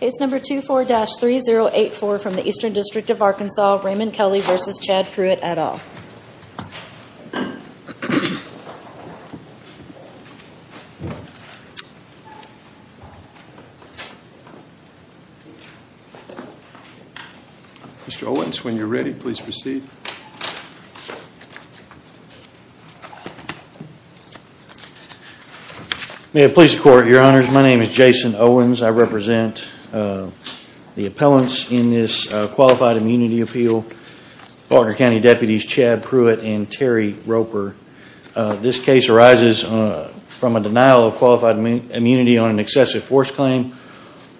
Case number 24-3084 from the Eastern District of Arkansas, Raymond Kelley v. Chad Pruett, et al. Mr. Owens, when you're ready, please proceed. May it please the Court, Your Honors, my name is Jason Owens. I represent the appellants in this Qualified Immunity Appeal, Baltimore County Deputies Chad Pruett and Terry Roper. This case arises from a denial of qualified immunity on an excessive force claim.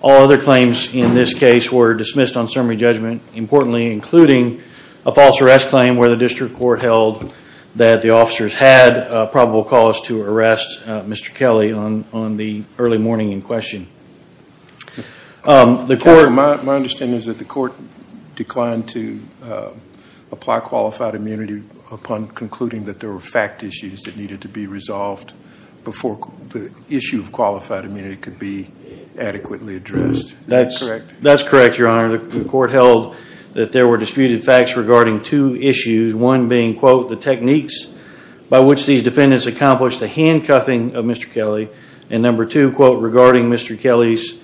All other claims in this case were dismissed on summary judgment, importantly including a false arrest claim where the District Court held that the officers had probable cause to arrest Mr. Kelley on the early morning in question. My understanding is that the Court declined to apply qualified immunity upon concluding that there were fact issues that needed to be resolved before the issue of qualified immunity could be adequately addressed. That's correct, Your Honor. The Court held that there were disputed facts regarding two issues. One being, quote, the techniques by which these defendants accomplished the handcuffing of Mr. Kelley. And number two, quote, regarding Mr. Kelley's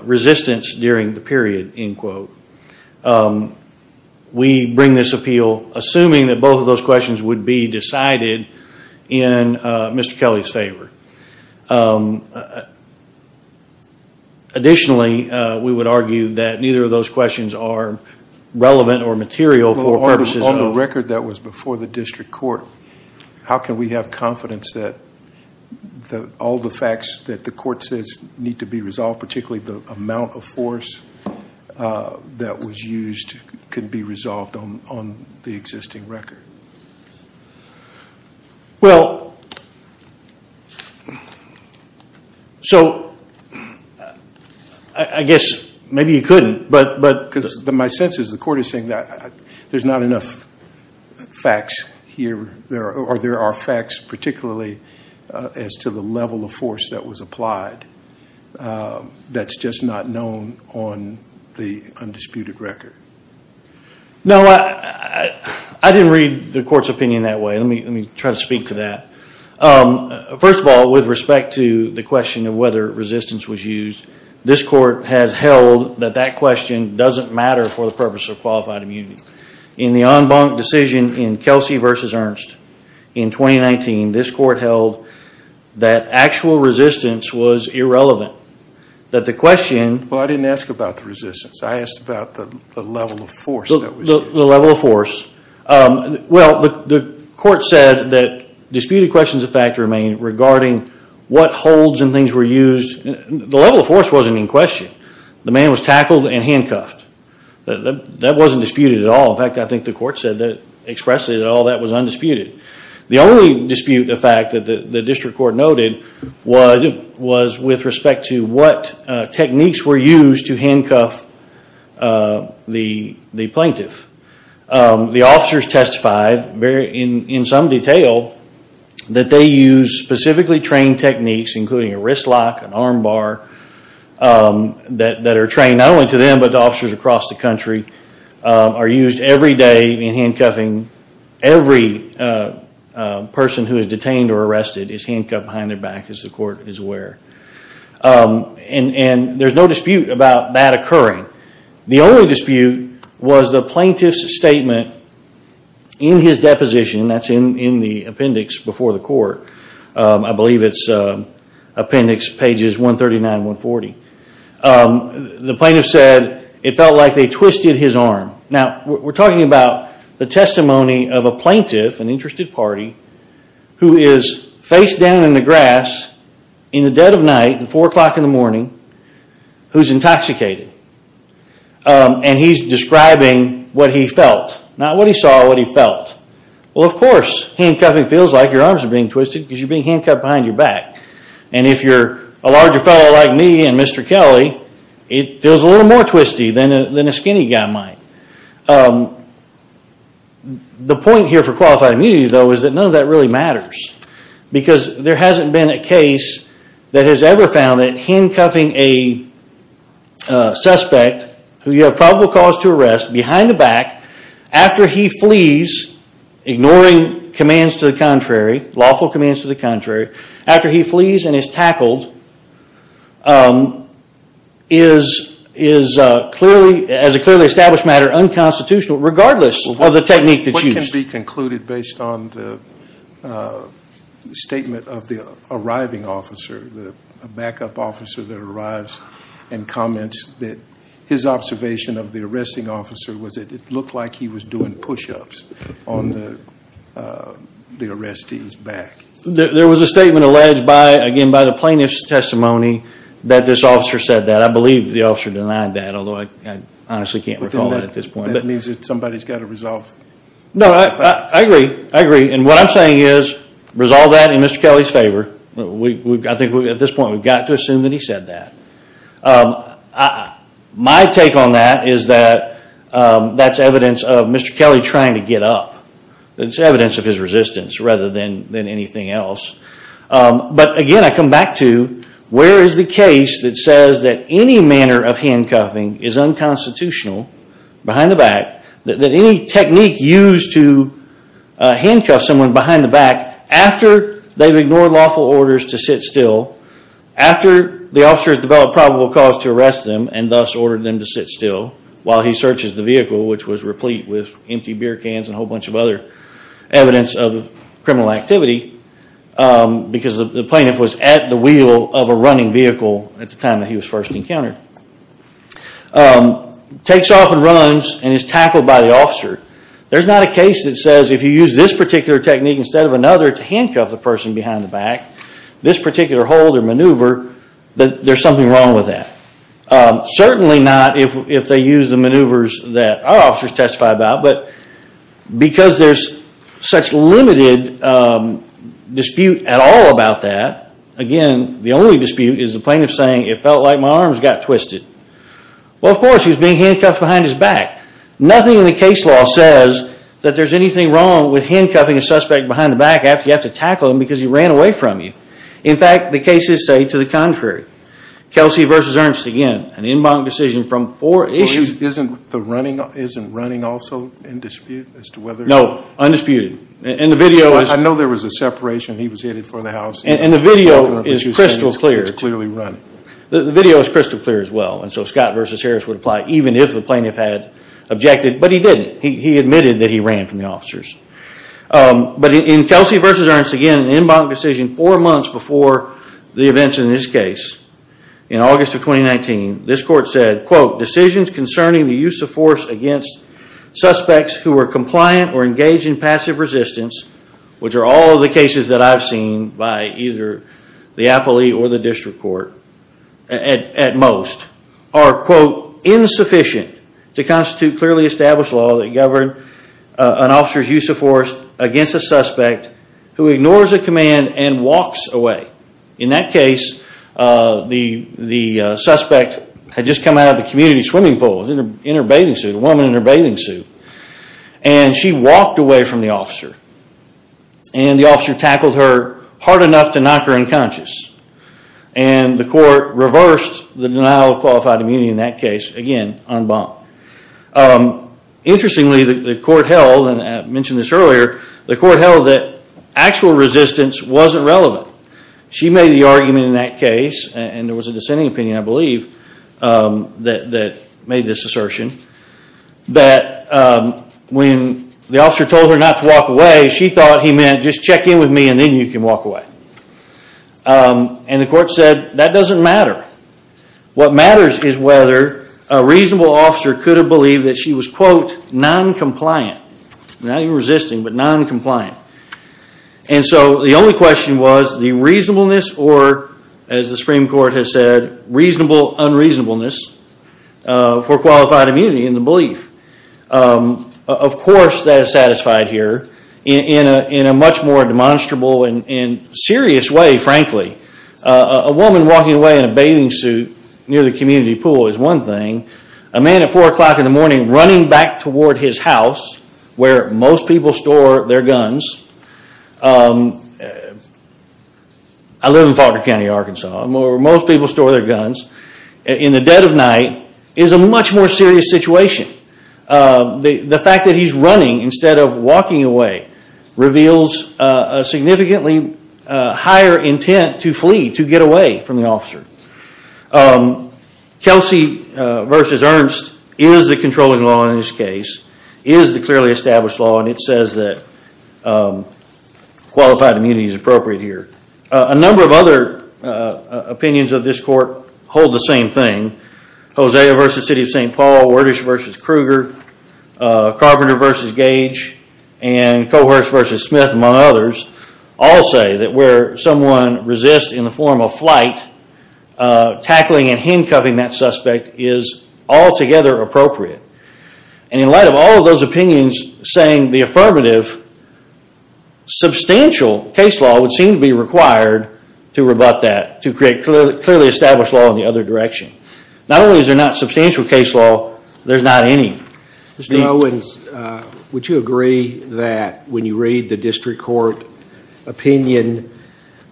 resistance during the period, end quote. We bring this appeal assuming that both of those questions would be decided in Mr. Kelley's favor. Additionally, we would argue that neither of those questions are relevant or material for purposes of- On the record that was before the District Court, how can we have confidence that all the facts that the Court says need to be resolved, particularly the amount of force that was used, could be resolved on the existing record? Well, so I guess maybe you couldn't, but- Because my sense is the Court is saying that there's not enough facts here, or there are facts particularly as to the level of force that was applied that's just not known on the undisputed record. No, I didn't read the Court's opinion that way. Let me try to speak to that. First of all, with respect to the question of whether resistance was used, this Court has held that that question doesn't matter for the purpose of qualified immunity. In the en banc decision in Kelsey v. Ernst in 2019, this Court held that actual resistance was irrelevant. Well, I didn't ask about the resistance. I asked about the level of force that was used. The level of force. Well, the Court said that disputed questions of fact remain regarding what holds and things were used. The level of force wasn't in question. The man was tackled and handcuffed. That wasn't disputed at all. In fact, I think the Court expressed that all that was undisputed. The only dispute of fact that the District Court noted was with respect to what techniques were used to handcuff the plaintiff. The officers testified in some detail that they used specifically trained techniques including a wrist lock, an arm bar, that are trained not only to them but to officers across the country, are used every day in handcuffing every person who is detained or arrested is handcuffed behind their back as the Court is aware. There's no dispute about that occurring. The only dispute was the plaintiff's statement in his deposition. That's in the appendix before the Court. I believe it's appendix pages 139 and 140. The plaintiff said it felt like they twisted his arm. Now, we're talking about the testimony of a plaintiff, an interested party, who is face down in the grass in the dead of night at 4 o'clock in the morning, who's intoxicated and he's describing what he felt. Not what he saw, what he felt. Well, of course, handcuffing feels like your arms are being twisted because you're being handcuffed behind your back. And if you're a larger fellow like me and Mr. Kelly, it feels a little more twisty than a skinny guy might. The point here for qualified immunity, though, is that none of that really matters. Because there hasn't been a case that has ever found that handcuffing a suspect who you have probable cause to arrest behind the back, after he flees, ignoring commands to the contrary, lawful commands to the contrary, after he flees and is tackled, is, as a clearly established matter, unconstitutional regardless of the technique that's used. What can be concluded based on the statement of the arriving officer, the backup officer that arrives, and comments that his observation of the arresting officer was that it looked like he was doing push-ups on the arrestee's back? There was a statement alleged by, again, by the plaintiff's testimony that this officer said that. I believe the officer denied that, although I honestly can't recall it at this point. That means that somebody's got to resolve it. No, I agree. I agree. And what I'm saying is, resolve that in Mr. Kelly's favor. I think at this point we've got to assume that he said that. My take on that is that that's evidence of Mr. Kelly trying to get up. It's evidence of his resistance, rather than anything else. But again, I come back to, where is the case that says that any manner of handcuffing is unconstitutional, behind the back, that any technique used to handcuff someone behind the back, after they've ignored lawful orders to sit still, after the officer has developed probable cause to arrest them, and thus ordered them to sit still, while he searches the vehicle, which was replete with empty beer cans and a whole bunch of other evidence of criminal activity, because the plaintiff was at the wheel of a running vehicle at the time that he was first encountered, takes off and runs, and is tackled by the officer. There's not a case that says if you use this particular technique instead of another to handcuff the person behind the back, this particular hold or maneuver, that there's something wrong with that. Certainly not if they use the maneuvers that our officers testify about, but because there's such limited dispute at all about that, again, the only dispute is the plaintiff saying, it felt like my arms got twisted. Well, of course, he was being handcuffed behind his back. Nothing in the case law says that there's anything wrong with handcuffing a suspect behind the back after you have to tackle him because he ran away from you. In fact, the cases say to the contrary. Kelsey v. Ernst, again, an en banc decision from four issues. Isn't the running also in dispute as to whether... No, undisputed. I know there was a separation. He was hitted for the house. And the video is crystal clear. It's clearly run. The video is crystal clear as well. And so Scott v. Harris would apply even if the plaintiff had objected, but he didn't. He admitted that he ran from the officers. But in Kelsey v. Ernst, again, an en banc decision four months before the events in this case, in August of 2019, this court said, quote, decisions concerning the use of force against suspects who were compliant or engaged in passive resistance, which are all of the cases that I've seen by either the appellee or the district court at most, are, quote, insufficient to constitute clearly established law that governed an officer's use of force against a suspect who ignores a command and walks away. In that case, the suspect had just come out of the community swimming pool. He was in her bathing suit, a woman in her bathing suit. And she walked away from the officer. And the officer tackled her hard enough to knock her unconscious. And the court reversed the denial of qualified immunity in that case, again, en banc. Interestingly, the court held, and I mentioned this earlier, the court held that actual resistance wasn't relevant. She made the argument in that case, and there was a dissenting opinion, I believe, that made this assertion, that when the officer told her not to walk away, she thought he meant just check in with me and then you can walk away. And the court said that doesn't matter. What matters is whether a reasonable officer could have believed that she was, quote, noncompliant. Not even resisting, but noncompliant. And so the only question was the reasonableness or, as the Supreme Court has said, reasonable unreasonableness for qualified immunity in the belief. Of course that is satisfied here in a much more demonstrable and serious way, frankly. A woman walking away in a bathing suit near the community pool is one thing. A man at 4 o'clock in the morning running back toward his house where most people store their guns. I live in Falkner County, Arkansas. Most people store their guns. In the dead of night is a much more serious situation. The fact that he's running instead of walking away reveals a significantly higher intent to flee, to get away from the officer. Kelsey v. Ernst is the controlling law in this case, is the clearly established law, and it says that qualified immunity is appropriate here. A number of other opinions of this court hold the same thing. Hosea v. City of St. Paul, Wordish v. Kruger, Carpenter v. Gage, and Cohurst v. Smith, among others, all say that where someone resists in the form of flight, tackling and handcuffing that suspect is altogether appropriate. And in light of all of those opinions saying the affirmative, substantial case law would seem to be required to rebut that, to create clearly established law in the other direction. Not only is there not substantial case law, there's not any. Mr. Owens, would you agree that when you read the district court opinion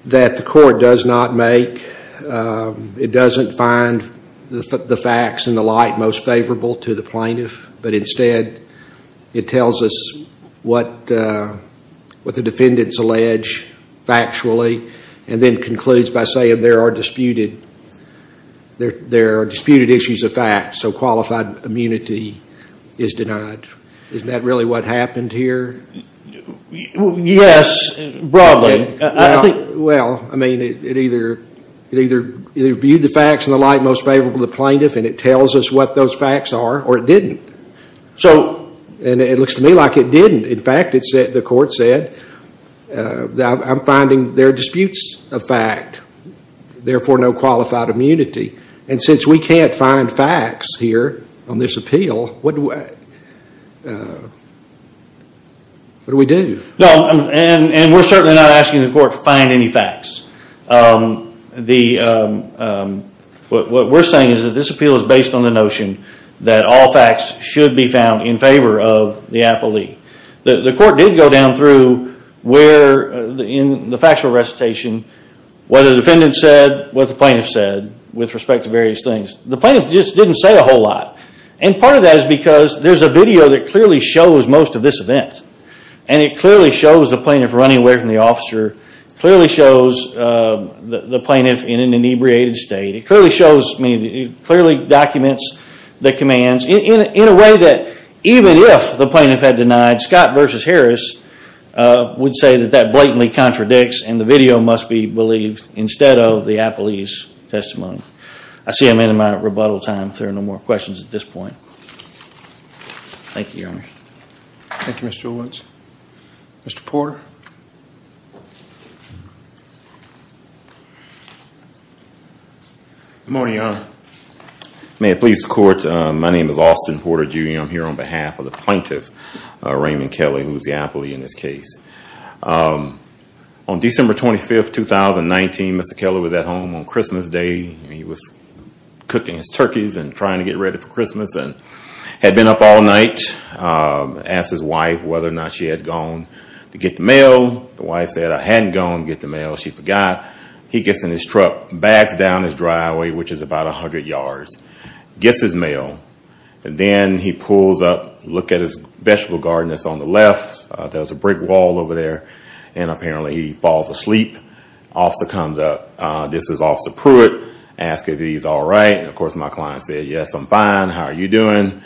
that the court does not make, it doesn't find the facts and the like most favorable to the plaintiff, but instead it tells us what the defendants allege factually, and then concludes by saying there are disputed issues of fact, so qualified immunity is denied. Isn't that really what happened here? Yes, broadly. Well, I mean, it either viewed the facts and the like most favorable to the plaintiff, and it tells us what those facts are, or it didn't. And it looks to me like it didn't. In fact, the court said, I'm finding there are disputes of fact, therefore no qualified immunity. And since we can't find facts here on this appeal, what do we do? And we're certainly not asking the court to find any facts. What we're saying is that this appeal is based on the notion that all facts should be found in favor of the appellee. The court did go down through where, in the factual recitation, what the defendant said, what the plaintiff said, with respect to various things. The plaintiff just didn't say a whole lot. And part of that is because there's a video that clearly shows most of this event. And it clearly shows the plaintiff running away from the officer. It clearly shows the plaintiff in an inebriated state. It clearly documents the commands in a way that, even if the plaintiff had denied, Scott v. Harris would say that that blatantly contradicts and the video must be believed instead of the appellee's testimony. I see I'm ending my rebuttal time. If there are no more questions at this point. Thank you, Your Honor. Thank you, Mr. Owens. Good morning, Your Honor. May it please the court, my name is Austin Porter, Jr. I'm here on behalf of the plaintiff, Raymond Kelly, who is the appellee in this case. On December 25, 2019, Mr. Kelly was at home on Christmas Day. He was cooking his turkeys and trying to get ready for Christmas. Had been up all night, asked his wife whether or not she had gone to get the mail. The wife said, I hadn't gone to get the mail, she forgot. He gets in his truck, bags down his driveway, which is about 100 yards, gets his mail. Then he pulls up, looks at his vegetable garden that's on the left, there's a brick wall over there, and apparently he falls asleep. Officer comes up, this is Officer Pruitt, asks if he's all right. Of course, my client said, yes, I'm fine, how are you doing?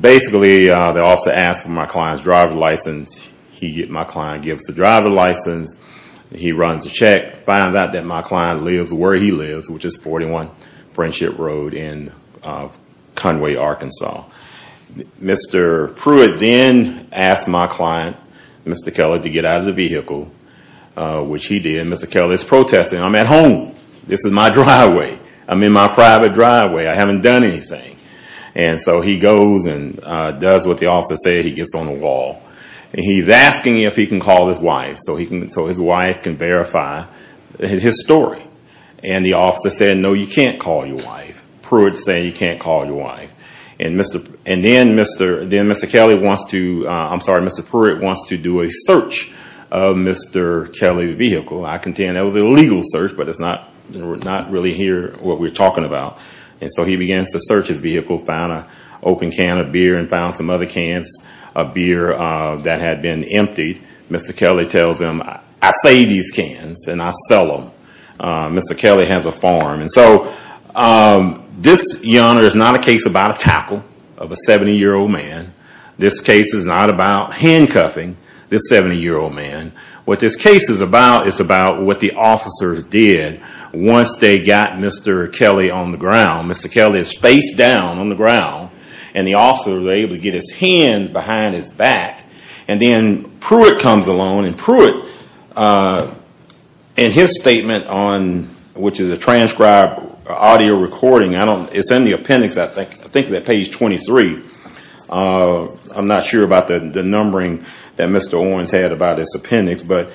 Basically, the officer asks for my client's driver's license. My client gives the driver's license, he runs the check, finds out that my client lives where he lives, which is 41 Friendship Road in Conway, Arkansas. Mr. Pruitt then asked my client, Mr. Kelly, to get out of the vehicle, which he did. Mr. Kelly is protesting, I'm at home, this is my driveway. I'm in my private driveway, I haven't done anything. He goes and does what the officer said, he gets on the wall. He's asking if he can call his wife, so his wife can verify his story. The officer said, no, you can't call your wife. Pruitt said, you can't call your wife. Then Mr. Kelly wants to, I'm sorry, Mr. Pruitt wants to do a search of Mr. Kelly's vehicle. I contend that was an illegal search, but it's not really what we're talking about. So he begins to search his vehicle, found an open can of beer and found some other cans of beer that had been emptied. Mr. Kelly tells him, I say these cans and I sell them. Mr. Kelly has a farm. This, Your Honor, is not a case about a tackle of a 70-year-old man. This case is not about handcuffing this 70-year-old man. What this case is about is what the officers did once they got Mr. Kelly on the ground. Mr. Kelly is face down on the ground and the officers were able to get his hands behind his back. Then Pruitt comes along and Pruitt, in his statement, which is a transcribed audio recording, it's in the appendix, I think, page 23. I'm not sure about the numbering that Mr. Owens had about this appendix. But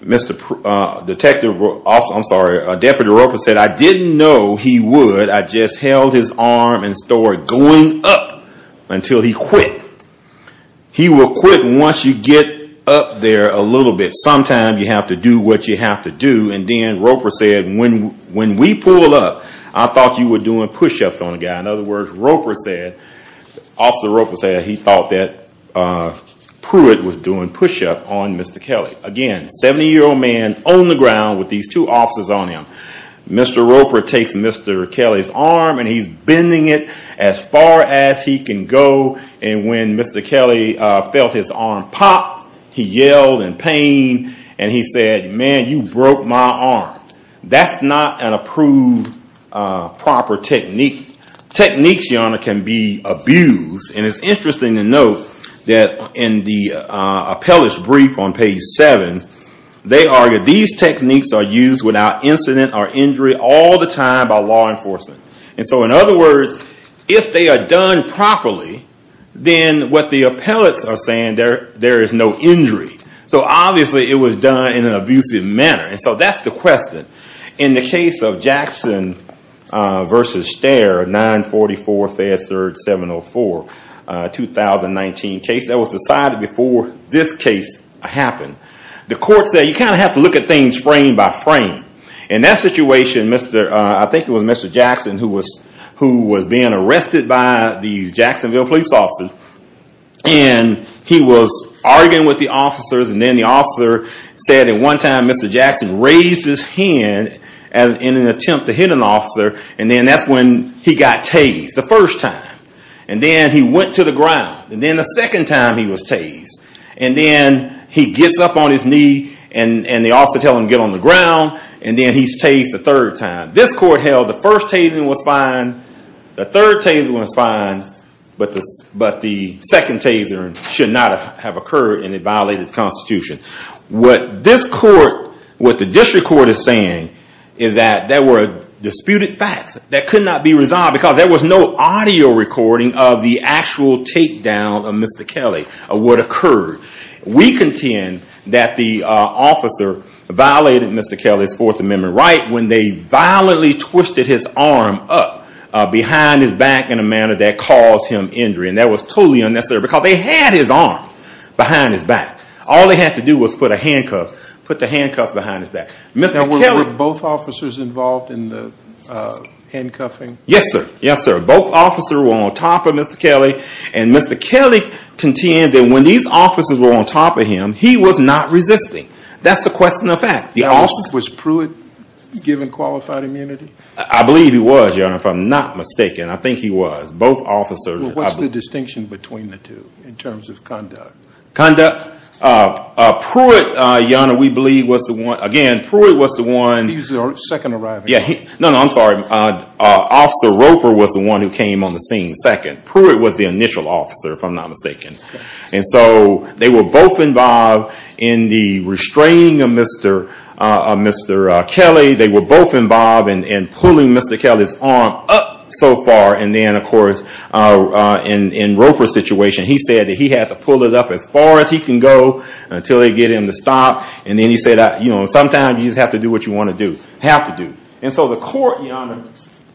Deputy Roper said, I didn't know he would. I just held his arm and started going up until he quit. He will quit once you get up there a little bit. Sometimes you have to do what you have to do. And then Roper said, when we pull up, I thought you were doing push-ups on a guy. In other words, Officer Roper said he thought that Pruitt was doing push-ups on Mr. Kelly. Again, 70-year-old man on the ground with these two officers on him. Mr. Roper takes Mr. Kelly's arm and he's bending it as far as he can go. And when Mr. Kelly felt his arm pop, he yelled in pain and he said, man, you broke my arm. That's not an approved proper technique. Techniques, Your Honor, can be abused. And it's interesting to note that in the appellate's brief on page 7, they argue these techniques are used without incident or injury all the time by law enforcement. And so in other words, if they are done properly, then what the appellates are saying, there is no injury. So obviously it was done in an abusive manner. And so that's the question. In the case of Jackson v. Stare, 944 Fayette St. 704, 2019 case, that was decided before this case happened. The court said you kind of have to look at things frame by frame. In that situation, I think it was Mr. Jackson who was being arrested by these Jacksonville police officers. And he was arguing with the officers. And then the officer said at one time Mr. Jackson raised his hand in an attempt to hit an officer. And then that's when he got tased the first time. And then he went to the ground. And then the second time he was tased. And then he gets up on his knee and the officer tells him to get on the ground. And then he's tased a third time. This court held the first tasing was fine. The third tasing was fine. But the second tasing should not have occurred and it violated the Constitution. What this court, what the district court is saying is that there were disputed facts that could not be resolved because there was no audio recording of the actual takedown of Mr. Kelly, of what occurred. We contend that the officer violated Mr. Kelly's Fourth Amendment right when they violently twisted his arm up behind his back in a manner that caused him injury. And that was totally unnecessary because they had his arm behind his back. All they had to do was put a handcuff, put the handcuffs behind his back. Were both officers involved in the handcuffing? Yes, sir. Yes, sir. Both officers were on top of Mr. Kelly. And Mr. Kelly contended when these officers were on top of him, he was not resisting. That's the question of fact. Was Pruitt given qualified immunity? I believe he was, Your Honor, if I'm not mistaken. I think he was. Both officers. What's the distinction between the two in terms of conduct? Conduct, Pruitt, Your Honor, we believe was the one. Again, Pruitt was the one. He was the second arriving. No, no, I'm sorry. Officer Roper was the one who came on the scene second. Pruitt was the initial officer, if I'm not mistaken. And so they were both involved in the restraining of Mr. Kelly. They were both involved in pulling Mr. Kelly's arm up so far. And then, of course, in Roper's situation, he said that he had to pull it up as far as he can go until they get him to stop. And then he said, you know, sometimes you just have to do what you want to do. Have to do. And so the court, Your Honor,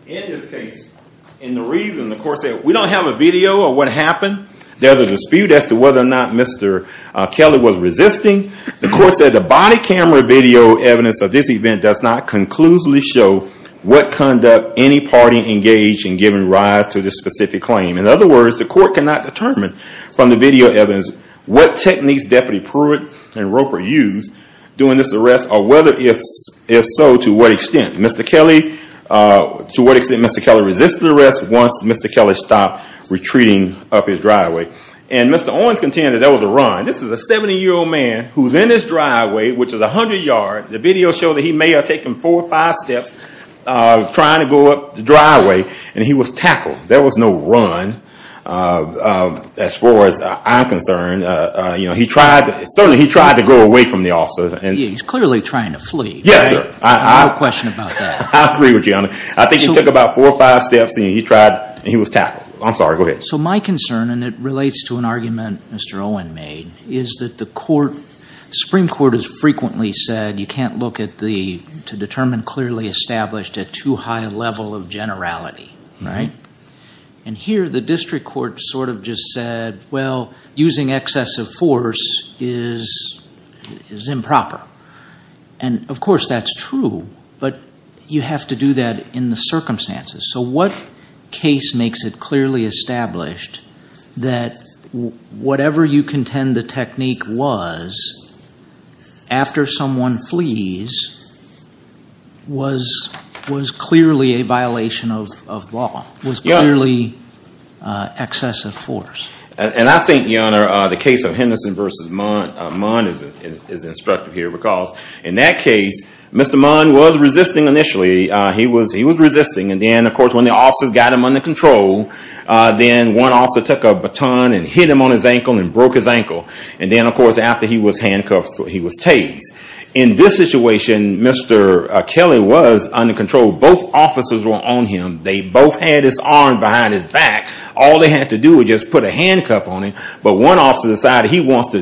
in this case, in the reasoning, the court said, we don't have a video of what happened. There's a dispute as to whether or not Mr. Kelly was resisting. The court said the body camera video evidence of this event does not conclusively show what conduct any party engaged in giving rise to this specific claim. In other words, the court cannot determine from the video evidence what techniques Deputy Pruitt and Roper used during this arrest or whether, if so, to what extent. Mr. Kelly, to what extent Mr. Kelly resisted the arrest once Mr. Kelly stopped retreating up his driveway. And Mr. Owens contended that was a run. This is a 70-year-old man who's in his driveway, which is 100 yards. The video showed that he may have taken four or five steps trying to go up the driveway. And he was tackled. There was no run as far as I'm concerned. You know, he tried, certainly he tried to go away from the officers. He's clearly trying to flee. Yes, sir. I have no question about that. I agree with you, Your Honor. I think he took about four or five steps and he tried and he was tackled. I'm sorry, go ahead. So my concern, and it relates to an argument Mr. Owen made, is that the Supreme Court has frequently said you can't look to determine clearly established at too high a level of generality, right? And here the district court sort of just said, well, using excessive force is improper. And, of course, that's true. But you have to do that in the circumstances. So what case makes it clearly established that whatever you contend the technique was, after someone flees, was clearly a violation of law, was clearly excessive force? And I think, Your Honor, the case of Henderson v. Munn is instructive here because in that case Mr. Munn was resisting initially. He was resisting and then, of course, when the officers got him under control, then one officer took a baton and hit him on his ankle and broke his ankle. And then, of course, after he was handcuffed he was tased. In this situation Mr. Kelly was under control. Both officers were on him. They both had his arm behind his back. All they had to do was just put a handcuff on him. But one officer decided he wants to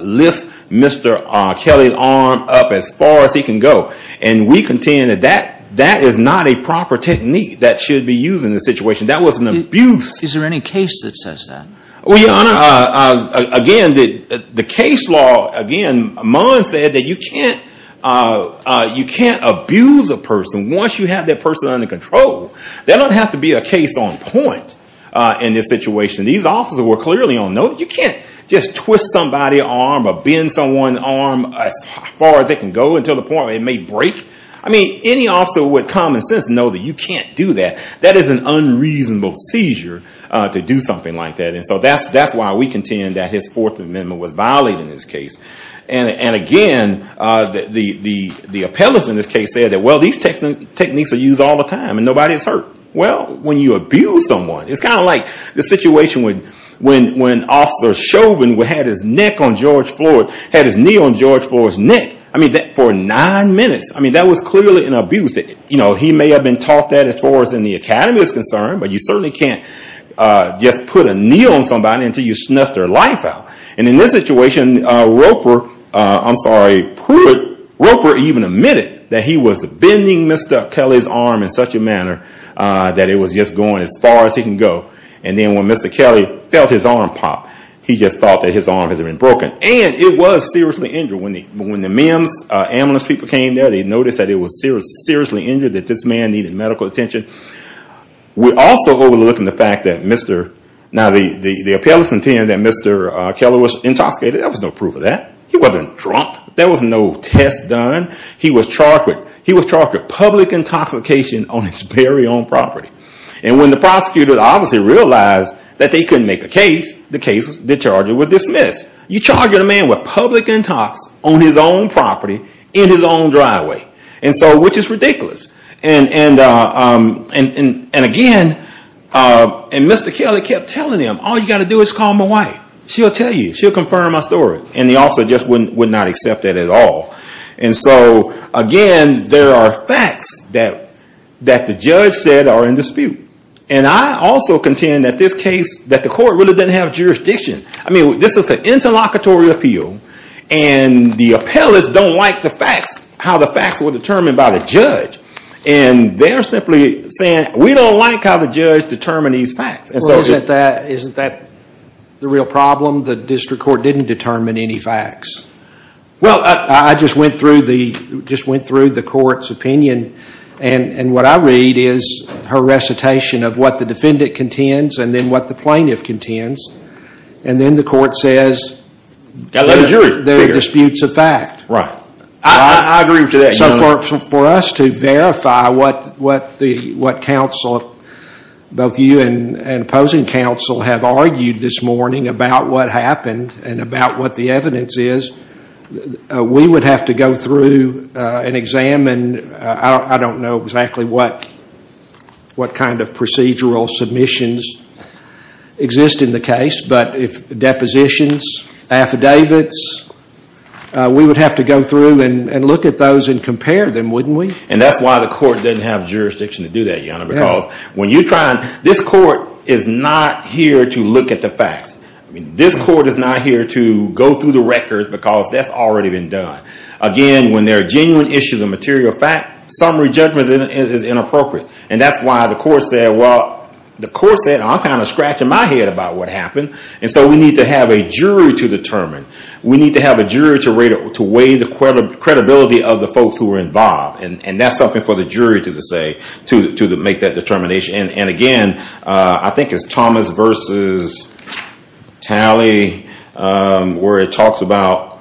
lift Mr. Kelly's arm up as far as he can go. And we contend that that is not a proper technique that should be used in this situation. That was an abuse. Is there any case that says that? Well, Your Honor, again, the case law, again, Munn said that you can't abuse a person once you have that person under control. There don't have to be a case on point in this situation. These officers were clearly on note. You can't just twist somebody's arm or bend someone's arm as far as it can go until the point where it may break. I mean, any officer with common sense knows that you can't do that. That is an unreasonable seizure to do something like that. And so that's why we contend that his Fourth Amendment was violated in this case. And, again, the appellants in this case said that, well, these techniques are used all the time and nobody is hurt. Well, when you abuse someone, it's kind of like the situation when Officer Chauvin had his knee on George Floyd's neck for nine minutes. I mean, that was clearly an abuse. He may have been taught that as far as the academy is concerned, but you certainly can't just put a knee on somebody until you snuff their life out. And in this situation, Roper even admitted that he was bending Mr. Kelly's arm in such a manner that it was just going as far as he could go. And then when Mr. Kelly felt his arm pop, he just thought that his arm had been broken. And it was seriously injured. When the ambulance people came there, they noticed that it was seriously injured, that this man needed medical attention. We're also overlooking the fact that the appellants intend that Mr. Kelly was intoxicated. There was no proof of that. He wasn't drunk. There was no test done. He was charged with public intoxication on his very own property. And when the prosecutors obviously realized that they couldn't make a case, the charges were dismissed. You charged a man with public intox on his own property in his own driveway, which is ridiculous. And again, Mr. Kelly kept telling them, all you've got to do is call my wife. She'll tell you. She'll confirm my story. And the officer just would not accept that at all. And so again, there are facts that the judge said are in dispute. And I also contend that this case, that the court really didn't have jurisdiction. I mean, this is an interlocutory appeal. And the appellants don't like the facts, how the facts were determined by the judge. And they're simply saying, we don't like how the judge determined these facts. Well, isn't that the real problem? The district court didn't determine any facts. Well, I just went through the court's opinion. And what I read is her recitation of what the defendant contends and then what the plaintiff contends. And then the court says there are disputes of fact. I agree with you on that. So for us to verify what counsel, both you and opposing counsel, have argued this morning about what happened and about what the evidence is, we would have to go through and examine, I don't know exactly what kind of procedural submissions exist in the case, but if depositions, affidavits, we would have to go through and look at those and compare them, wouldn't we? And that's why the court didn't have jurisdiction to do that, Your Honor. Because when you try and, this court is not here to look at the facts. This court is not here to go through the records because that's already been done. Again, when there are genuine issues of material fact, summary judgment is inappropriate. And that's why the court said, well, the court said, I'm kind of scratching my head about what happened. And so we need to have a jury to determine. We need to have a jury to weigh the credibility of the folks who were involved. And that's something for the jury to say, to make that determination. And again, I think it's Thomas versus Talley where it talks about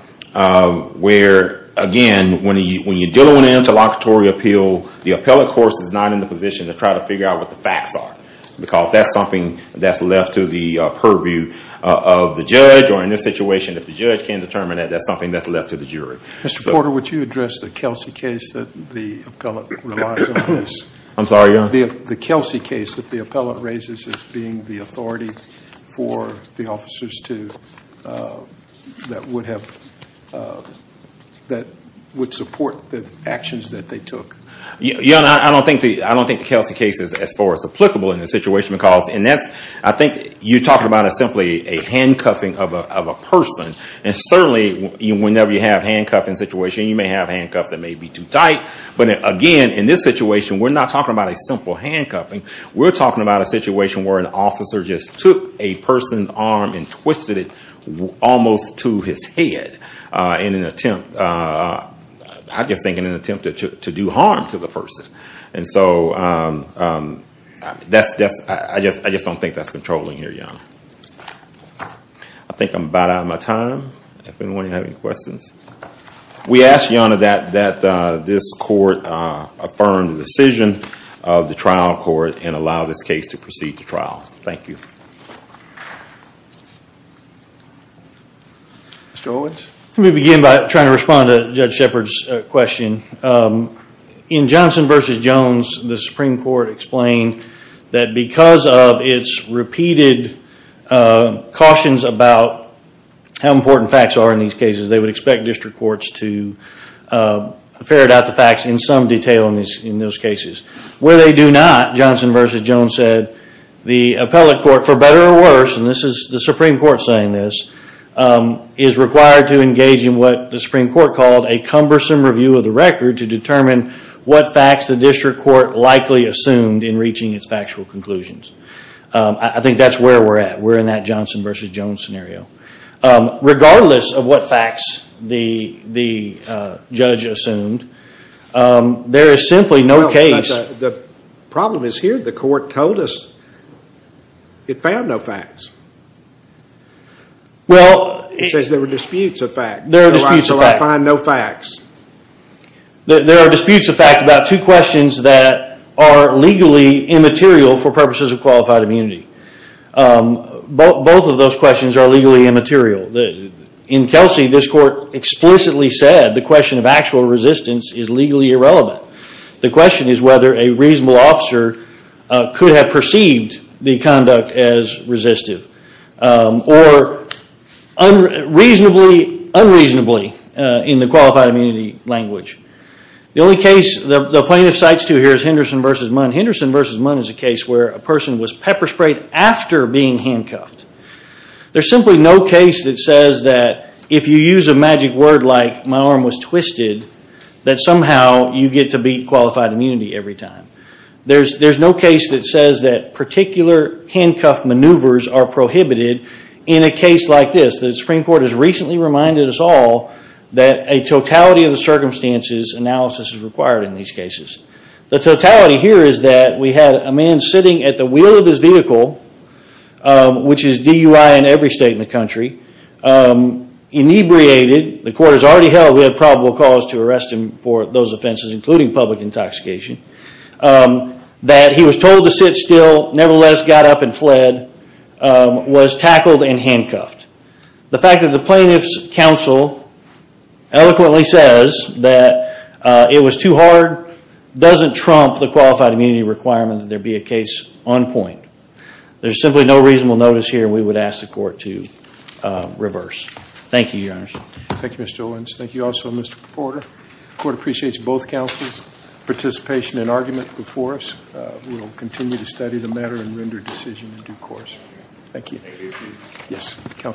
where, again, when you're dealing with an interlocutory appeal, the appellate court is not in the position to try to figure out what the facts are. Because that's something that's left to the purview of the judge. Or in this situation, if the judge can't determine it, that's something that's left to the jury. Mr. Porter, would you address the Kelsey case that the appellate relies on? I'm sorry, Your Honor? The Kelsey case that the appellate raises as being the authority for the officers that would support the actions that they took. Your Honor, I don't think the Kelsey case is as far as applicable in this situation. Because I think you're talking about simply a handcuffing of a person. And certainly, whenever you have a handcuffing situation, you may have handcuffs that may be too tight. But again, in this situation, we're not talking about a simple handcuffing. We're talking about a situation where an officer just took a person's arm and twisted it almost to his head in an attempt to do harm to the person. And so I just don't think that's controlling here, Your Honor. I think I'm about out of my time. Does anyone have any questions? We ask, Your Honor, that this court affirm the decision of the trial court and allow this case to proceed to trial. Thank you. Mr. Owens? Let me begin by trying to respond to Judge Shepard's question. In Johnson v. Jones, the Supreme Court explained that because of its repeated cautions about how important facts are in these cases, they would expect district courts to ferret out the facts in some detail in those cases. Where they do not, Johnson v. Jones said, the appellate court, for better or worse, and this is the Supreme Court saying this, is required to engage in what the Supreme Court called a cumbersome review of the record to determine what facts the district court likely assumed in reaching its factual conclusions. I think that's where we're at. We're in that Johnson v. Jones scenario. Regardless of what facts the judge assumed, there is simply no case. The problem is here, the court told us it found no facts. It says there were disputes of facts. There are disputes of facts. So I find no facts. There are disputes of facts about two questions that are legally immaterial for purposes of qualified immunity. Both of those questions are legally immaterial. In Kelsey, this court explicitly said the question of actual resistance is legally irrelevant. The question is whether a reasonable officer could have perceived the conduct as resistive or unreasonably in the qualified immunity language. The only case the plaintiff cites here is Henderson v. Munn. Henderson v. Munn is a case where a person was pepper sprayed after being handcuffed. There's simply no case that says that if you use a magic word like my arm was twisted, that somehow you get to beat qualified immunity every time. There's no case that says that particular handcuffed maneuvers are prohibited in a case like this. The Supreme Court has recently reminded us all that a totality of the circumstances analysis is required in these cases. The totality here is that we had a man sitting at the wheel of his vehicle, which is DUI in every state in the country, inebriated. The court has already held we had probable cause to arrest him for those offenses, including public intoxication. That he was told to sit still, nevertheless got up and fled, was tackled and handcuffed. The fact that the plaintiff's counsel eloquently says that it was too hard doesn't trump the qualified immunity requirement that there be a case on point. There's simply no reasonable notice here we would ask the court to reverse. Thank you, Your Honor. Thank you, Mr. Owens. Thank you also, Mr. Porter. The court appreciates both counsel's participation and argument before us. We will continue to study the matter and render a decision in due course. Thank you.